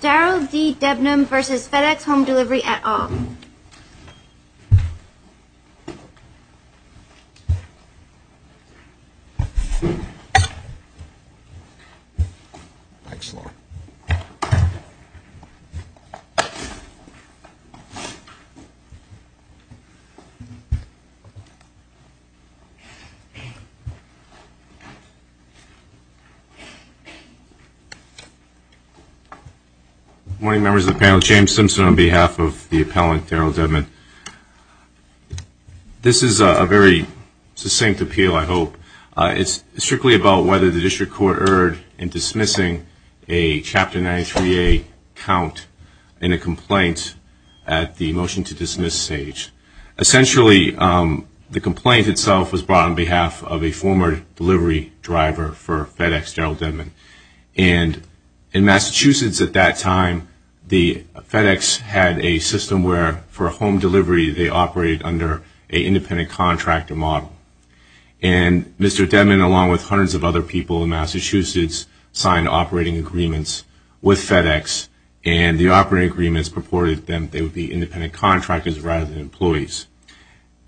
Darrell D. Debnam v. FedEx Home Delivery et al. Good morning, members of the panel. James Simpson on behalf of the appellant Darrell Debnam. This is a very succinct appeal, I hope. It's strictly about whether the district court erred in dismissing a Chapter 93A count in a complaint at the motion-to-dismiss stage. Essentially, the complaint itself was brought on behalf of a former delivery driver for FedEx, Darrell Debnam. And in Massachusetts at that time, the FedEx had a system where, for a home delivery, they operated under an independent contractor model. And Mr. Debnam, along with hundreds of other people in Massachusetts, signed operating agreements with FedEx, and the operating agreements purported that they would be independent contractors rather than employees.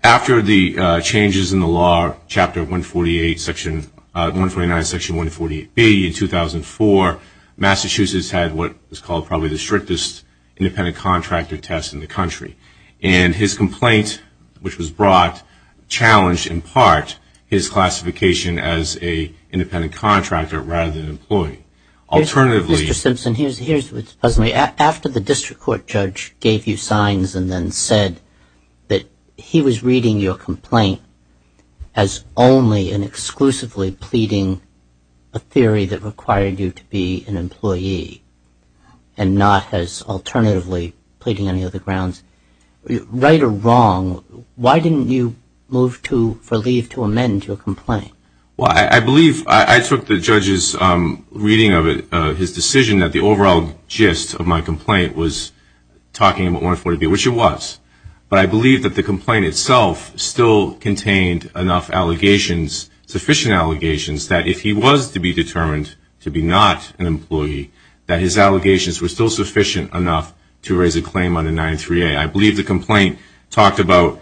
After the changes in the law, Chapter 149, Section 148B in 2004, Massachusetts had what was called probably the strictest independent contractor test in the country. And his complaint, which was brought, challenged in part his classification as an independent contractor rather than an employee. Mr. Simpson, here's what's puzzling me. After the district court judge gave you signs and then said that he was reading your complaint as only and exclusively pleading a theory that required you to be an employee and not as alternatively pleading any other grounds, right or wrong, why didn't you move for leave to amend your complaint? Well, I believe I took the judge's reading of his decision that the overall gist of my complaint was talking about 148B, which it was. But I believe that the complaint itself still contained enough allegations, sufficient allegations, that if he was to be determined to be not an employee, that his allegations were still sufficient enough to raise a claim under 938. I believe the complaint talked about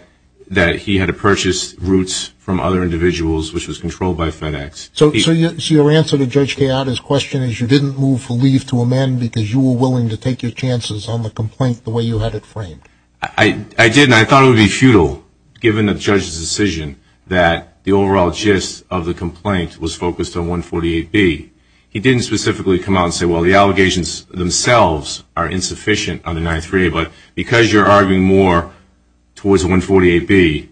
that he had to purchase routes from other individuals, which was controlled by FedEx. So your answer to Judge Kayada's question is you didn't move for leave to amend because you were willing to take your chances on the complaint the way you had it framed? I didn't. I thought it would be futile, given the judge's decision, that the overall gist of the complaint was focused on 148B. He didn't specifically come out and say, well, the allegations themselves are insufficient under 938. But because you're arguing more towards 148B,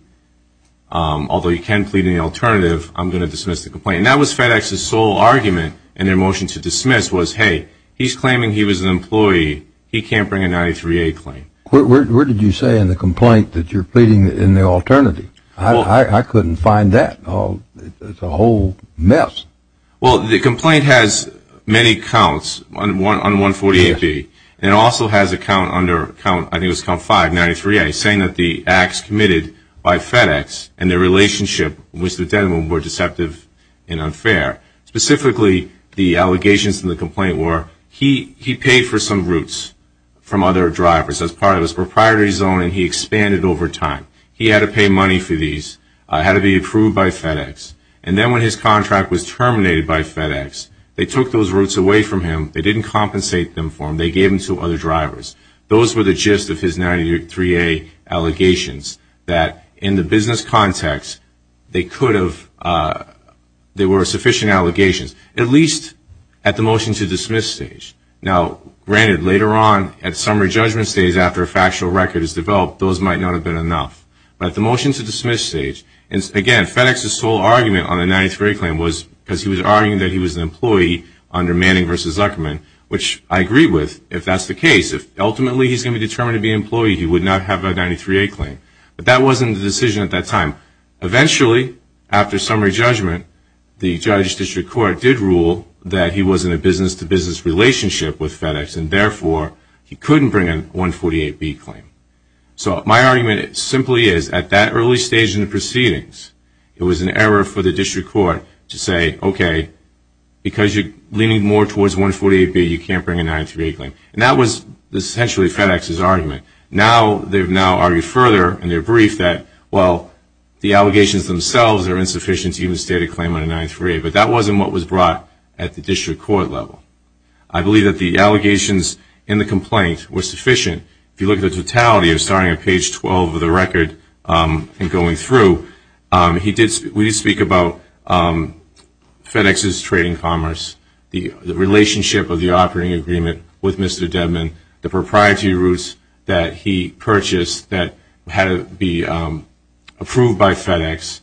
although you can plead in the alternative, I'm going to dismiss the complaint. And that was FedEx's sole argument in their motion to dismiss was, hey, he's claiming he was an employee. He can't bring a 938 claim. Where did you say in the complaint that you're pleading in the alternative? I couldn't find that. It's a whole mess. Well, the complaint has many counts on 148B, and it also has a count under, I think it was count 593A, saying that the acts committed by FedEx and their relationship with Mr. Denham were deceptive and unfair. Specifically, the allegations in the complaint were he paid for some routes from other drivers as part of his proprietary zone, and he expanded over time. He had to pay money for these, had to be approved by FedEx. And then when his contract was terminated by FedEx, they took those routes away from him. They didn't compensate them for him. They gave them to other drivers. Those were the gist of his 938 allegations, that in the business context, they were sufficient allegations, at least at the motion to dismiss stage. Now, granted, later on, at summary judgment stage, after a factual record is developed, those might not have been enough. But at the motion to dismiss stage, and again, FedEx's sole argument on the 938 claim was because he was arguing that he was an employee under Manning v. Zuckerman, which I agree with, if that's the case. If ultimately he's going to be determined to be an employee, he would not have a 938 claim. But that wasn't the decision at that time. Eventually, after summary judgment, the judge's district court did rule that he was in a business-to-business relationship with FedEx, and therefore he couldn't bring a 148B claim. So my argument simply is, at that early stage in the proceedings, it was an error for the district court to say, okay, because you're leaning more towards 148B, you can't bring a 938 claim. And that was essentially FedEx's argument. Now they've now argued further in their brief that, well, the allegations themselves are insufficient to even state a claim on a 938. But that wasn't what was brought at the district court level. I believe that the allegations in the complaint were sufficient. If you look at the totality of starting at page 12 of the record and going through, we did speak about FedEx's trade and commerce, the relationship of the operating agreement with Mr. Dedman, the propriety routes that he purchased that had to be approved by FedEx.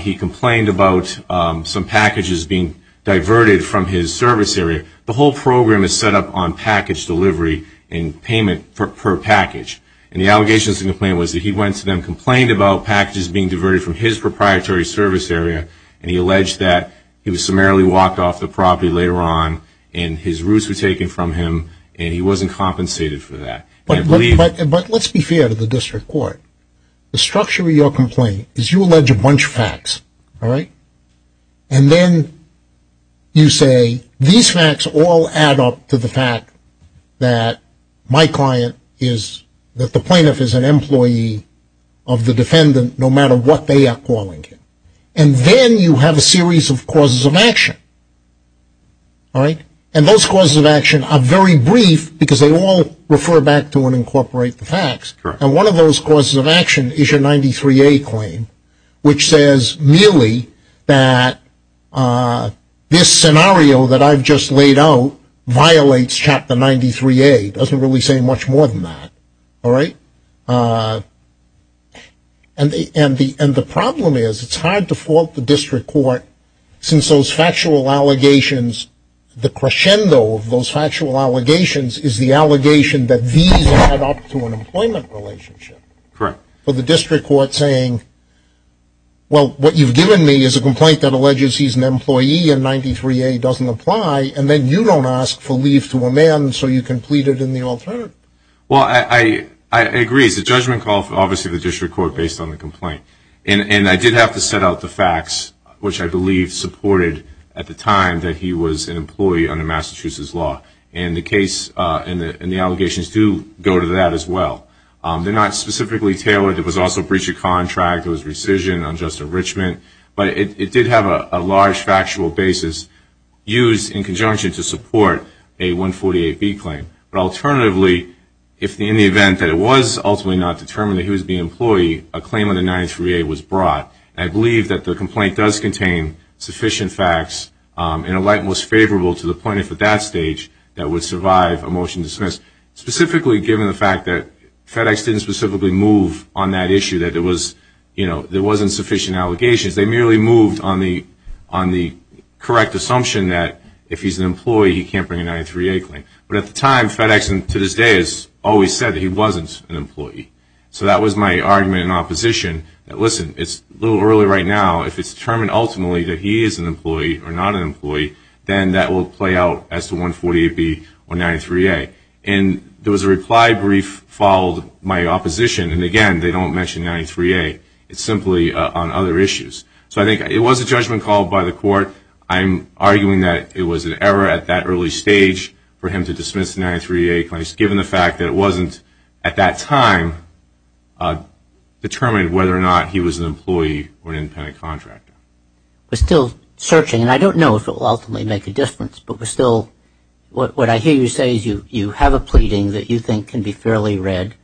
He complained about some packages being diverted from his service area. The whole program is set up on package delivery and payment per package. And the allegations in the complaint was that he went to them, complained about packages being diverted from his proprietary service area, and he alleged that he was summarily walked off the property later on, and his routes were taken from him, and he wasn't compensated for that. But let's be fair to the district court. The structure of your complaint is you allege a bunch of facts, all right? And then you say these facts all add up to the fact that my client is, that the plaintiff is an employee of the defendant no matter what they are calling him. And then you have a series of causes of action, all right? And those causes of action are very brief because they all refer back to and incorporate the facts. And one of those causes of action is your 93A claim, which says merely that this scenario that I've just laid out violates Chapter 93A. It doesn't really say much more than that, all right? And the problem is it's hard to fault the district court since those factual allegations, the crescendo of those factual allegations is the allegation that these add up to an employment relationship. Correct. For the district court saying, well, what you've given me is a complaint that alleges he's an employee and 93A doesn't apply, and then you don't ask for leave to amend, so you can plead it in the alternative. Well, I agree. It's a judgment call for obviously the district court based on the complaint. And I did have to set out the facts, which I believe supported at the time that he was an employee under Massachusetts law. And the case and the allegations do go to that as well. They're not specifically tailored. It was also a breach of contract, it was rescission, unjust enrichment. But it did have a large factual basis used in conjunction to support a 148B claim. But alternatively, in the event that it was ultimately not determined that he was the employee, a claim under 93A was brought. And I believe that the complaint does contain sufficient facts in a light most favorable to the plaintiff at that stage that would survive a motion to dismiss, specifically given the fact that FedEx didn't specifically move on that issue, that there wasn't sufficient allegations. They merely moved on the correct assumption that if he's an employee, he can't bring a 93A claim. But at the time, FedEx to this day has always said that he wasn't an employee. So that was my argument in opposition that, listen, it's a little early right now. If it's determined ultimately that he is an employee or not an employee, then that will play out as to 148B or 93A. And there was a reply brief followed my opposition. And again, they don't mention 93A. It's simply on other issues. So I think it was a judgment called by the court. I'm arguing that it was an error at that early stage for him to dismiss the 93A claim, just given the fact that it wasn't at that time determined whether or not he was an employee or an independent contractor. We're still searching. And I don't know if it will ultimately make a difference. But we're still – what I hear you say is you have a pleading that you think can be fairly read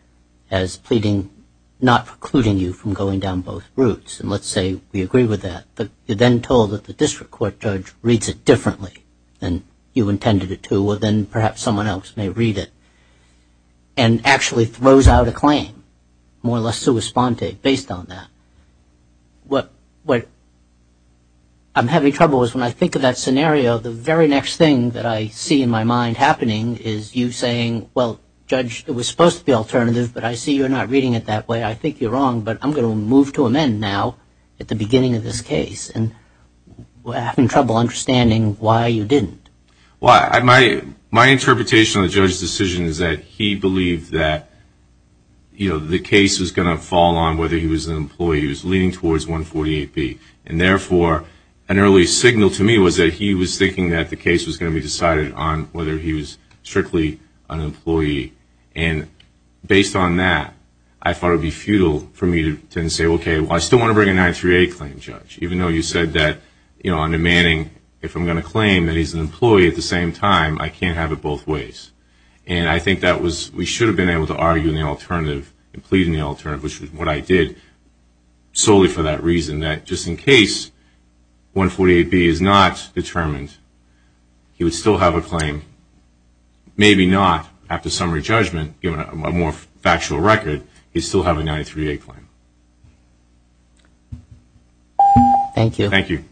as pleading not precluding you from going down both routes. And let's say we agree with that. But you're then told that the district court judge reads it differently than you intended it to. Or then perhaps someone else may read it. And actually throws out a claim, more or less sua sponte, based on that. What I'm having trouble with when I think of that scenario, the very next thing that I see in my mind happening is you saying, well, Judge, it was supposed to be alternative, but I see you're not reading it that way. I think you're wrong, but I'm going to move to amend now at the beginning of this case. And we're having trouble understanding why you didn't. Well, my interpretation of the judge's decision is that he believed that, you know, the case was going to fall on whether he was an employee. He was leaning towards 148B. And therefore, an early signal to me was that he was thinking that the case was going to be decided on whether he was strictly an employee. And based on that, I thought it would be futile for me to say, okay, well, I still want to bring a 938 claim, Judge. Even though you said that, you know, I'm demanding if I'm going to claim that he's an employee at the same time, I can't have it both ways. And I think that was we should have been able to argue in the alternative and plead in the alternative, which is what I did solely for that reason, that just in case 148B is not determined, he would still have a claim. Maybe not. After summary judgment, given a more factual record, he'd still have a 938 claim. Thank you. Thank you.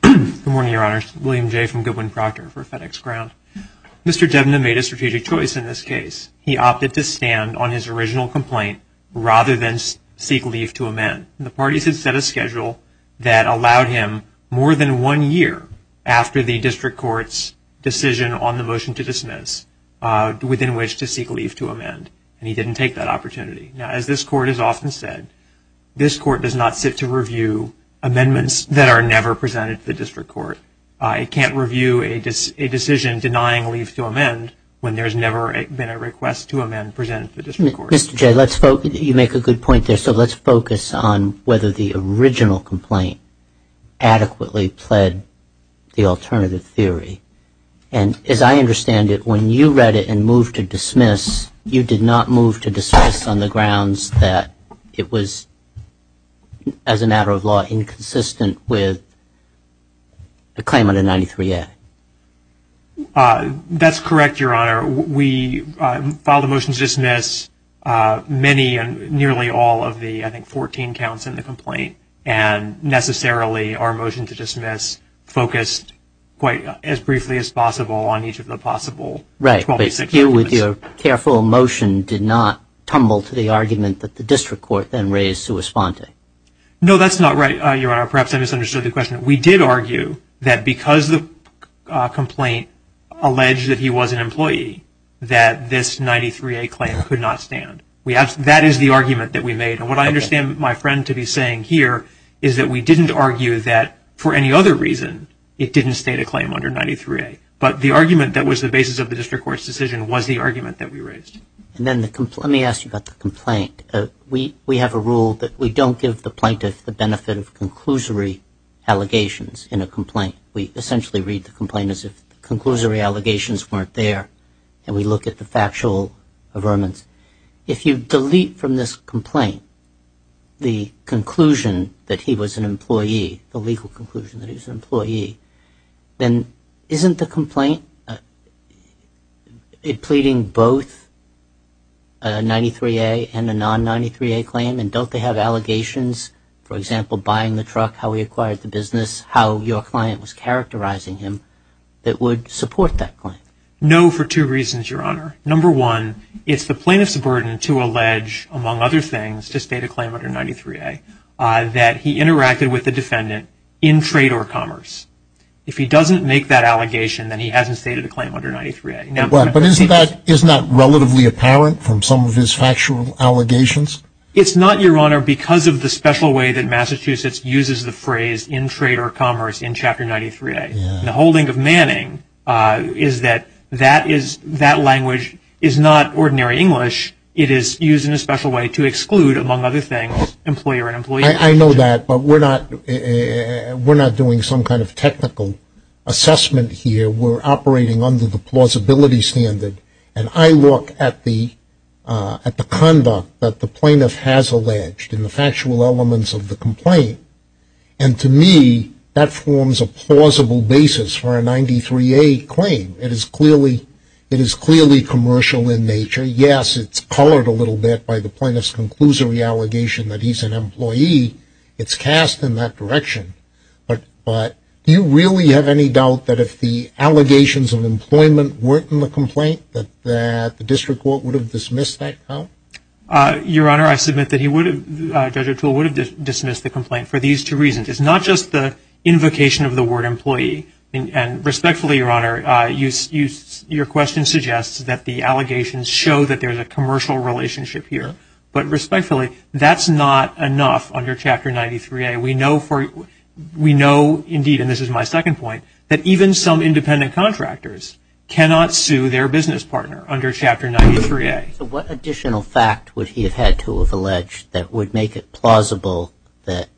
Good morning, Your Honors. William Jay from Goodwin-Proctor for FedEx Ground. Mr. Devna made a strategic choice in this case. He opted to stand on his original complaint rather than seek leave to amend. The parties had set a schedule that allowed him more than one year after the district court's decision on the motion to dismiss within which to seek leave to amend. And he didn't take that opportunity. Now, as this court has often said, this court does not sit to review amendments that are never presented to the district court. It can't review a decision denying leave to amend when there's never been a request to amend presented to the district court. Mr. Jay, you make a good point there. So let's focus on whether the original complaint adequately pled the alternative theory. And as I understand it, when you read it and moved to dismiss, you did not move to dismiss on the grounds that it was, as a matter of law, inconsistent with the claim under 938. That's correct, Your Honor. We filed a motion to dismiss many and nearly all of the, I think, 14 counts in the complaint. And necessarily our motion to dismiss focused quite as briefly as possible on each of the possible 12-6 arguments. So you, with your careful motion, did not tumble to the argument that the district court then raised to respond to? No, that's not right, Your Honor. Perhaps I misunderstood the question. We did argue that because the complaint alleged that he was an employee, that this 938 claim could not stand. That is the argument that we made. And what I understand my friend to be saying here is that we didn't argue that, for any other reason, it didn't state a claim under 938. But the argument that was the basis of the district court's decision was the argument that we raised. Let me ask you about the complaint. We have a rule that we don't give the plaintiff the benefit of conclusory allegations in a complaint. We essentially read the complaint as if the conclusory allegations weren't there, and we look at the factual affirmance. If you delete from this complaint the conclusion that he was an employee, the legal conclusion that he was an employee, then isn't the complaint pleading both a 938 and a non-938 claim? And don't they have allegations, for example, buying the truck, how he acquired the business, how your client was characterizing him, that would support that claim? No, for two reasons, Your Honor. Number one, it's the plaintiff's burden to allege, among other things, to state a claim under 938, that he interacted with the defendant in trade or commerce. If he doesn't make that allegation, then he hasn't stated a claim under 938. But isn't that relatively apparent from some of his factual allegations? It's not, Your Honor, because of the special way that Massachusetts uses the phrase in trade or commerce in Chapter 93A. The holding of Manning is that that language is not ordinary English. It is used in a special way to exclude, among other things, employer and employee. I know that, but we're not doing some kind of technical assessment here. We're operating under the plausibility standard, and I look at the conduct that the plaintiff has alleged in the factual elements of the complaint, and to me that forms a plausible basis for a 938 claim. It is clearly commercial in nature. Yes, it's colored a little bit by the plaintiff's conclusory allegation that he's an employee. It's cast in that direction. But do you really have any doubt that if the allegations of employment weren't in the complaint, that the district court would have dismissed that count? Your Honor, I submit that Judge O'Toole would have dismissed the complaint for these two reasons. It's not just the invocation of the word employee. Respectfully, Your Honor, your question suggests that the allegations show that there's a commercial relationship here. But respectfully, that's not enough under Chapter 93A. We know, indeed, and this is my second point, that even some independent contractors cannot sue their business partner under Chapter 93A. So what additional fact would he have had to have alleged that would make it plausible that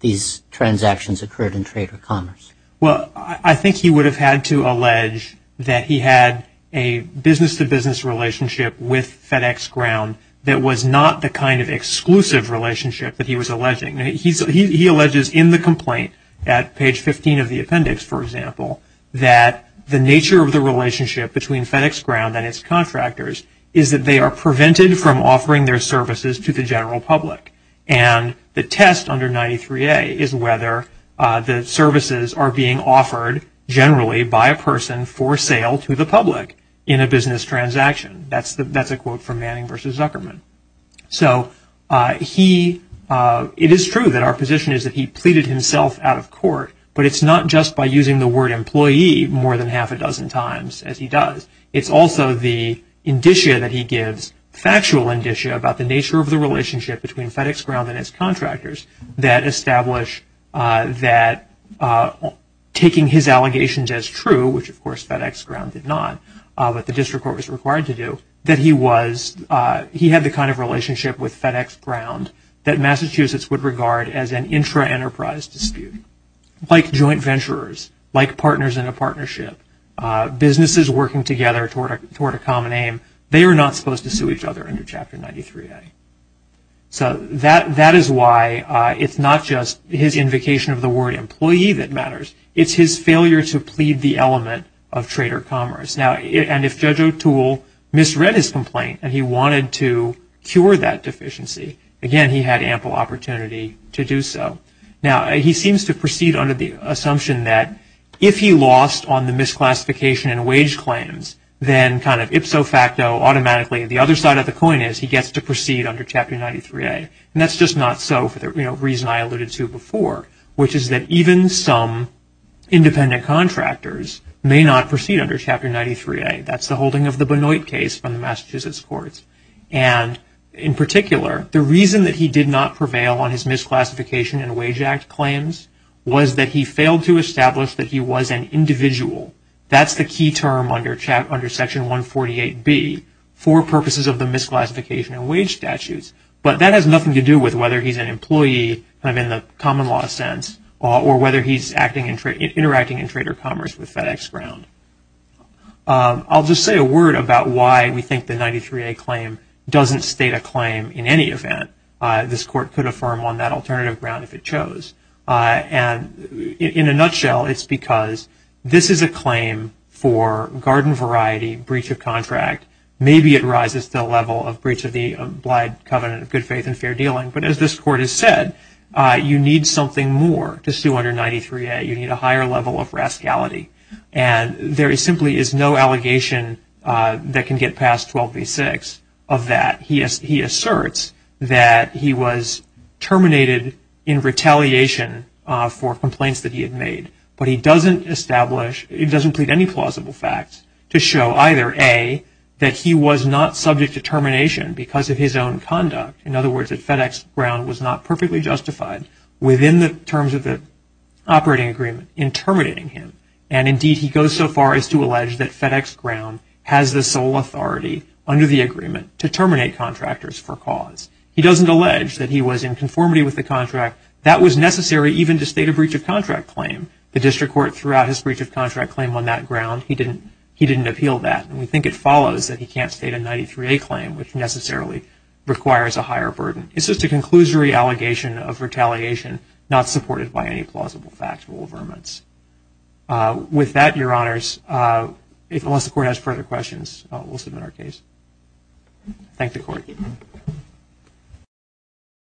these transactions occurred in trade or commerce? Well, I think he would have had to allege that he had a business-to-business relationship with FedEx Ground that was not the kind of exclusive relationship that he was alleging. He alleges in the complaint at page 15 of the appendix, for example, that the nature of the relationship between FedEx Ground and its contractors is that they are prevented from offering their services to the general public. And the test under 93A is whether the services are being offered generally by a person for sale to the public in a business transaction. That's a quote from Manning v. Zuckerman. So it is true that our position is that he pleaded himself out of court, but it's not just by using the word employee more than half a dozen times, as he does. It's also the indicia that he gives, factual indicia, about the nature of the relationship between FedEx Ground and its contractors that establish that taking his allegations as true, which of course FedEx Ground did not, but the district court was required to do, that he had the kind of relationship with FedEx Ground that Massachusetts would regard as an intra-enterprise dispute. Like joint venturers, like partners in a partnership, businesses working together toward a common aim, they are not supposed to sue each other under Chapter 93A. So that is why it's not just his invocation of the word employee that matters. It's his failure to plead the element of trader commerce. And if Judge O'Toole misread his complaint and he wanted to cure that deficiency, again, he had ample opportunity to do so. Now, he seems to proceed under the assumption that if he lost on the misclassification and wage claims, then kind of ipso facto, automatically, the other side of the coin is he gets to proceed under Chapter 93A. And that's just not so for the reason I alluded to before, which is that even some independent contractors may not proceed under Chapter 93A. That's the holding of the Benoit case from the Massachusetts courts. And in particular, the reason that he did not prevail on his misclassification and wage act claims was that he failed to establish that he was an individual. That's the key term under Section 148B for purposes of the misclassification and wage statutes. But that has nothing to do with whether he's an employee in the common law sense or whether he's interacting in trader commerce with FedEx Ground. I'll just say a word about why we think the 93A claim doesn't state a claim in any event. This court could affirm on that alternative ground if it chose. And in a nutshell, it's because this is a claim for garden variety breach of contract. Maybe it rises to the level of breach of the obliged covenant of good faith and fair dealing. But as this court has said, you need something more to sue under 93A. You need a higher level of rascality. And there simply is no allegation that can get past 1286 of that. He asserts that he was terminated in retaliation for complaints that he had made. But he doesn't establish, he doesn't plead any plausible facts to show either A, that he was not subject to termination because of his own conduct. In other words, that FedEx Ground was not perfectly justified within the terms of the operating agreement in terminating him. And indeed, he goes so far as to allege that FedEx Ground has the sole authority under the agreement to terminate contractors for cause. He doesn't allege that he was in conformity with the contract. That was necessary even to state a breach of contract claim. The district court threw out his breach of contract claim on that ground. He didn't appeal that. And we think it follows that he can't state a 93A claim, which necessarily requires a higher burden. It's just a conclusory allegation of retaliation, not supported by any plausible factual affirmance. With that, Your Honors, unless the Court has further questions, we'll submit our case. Thank the Court.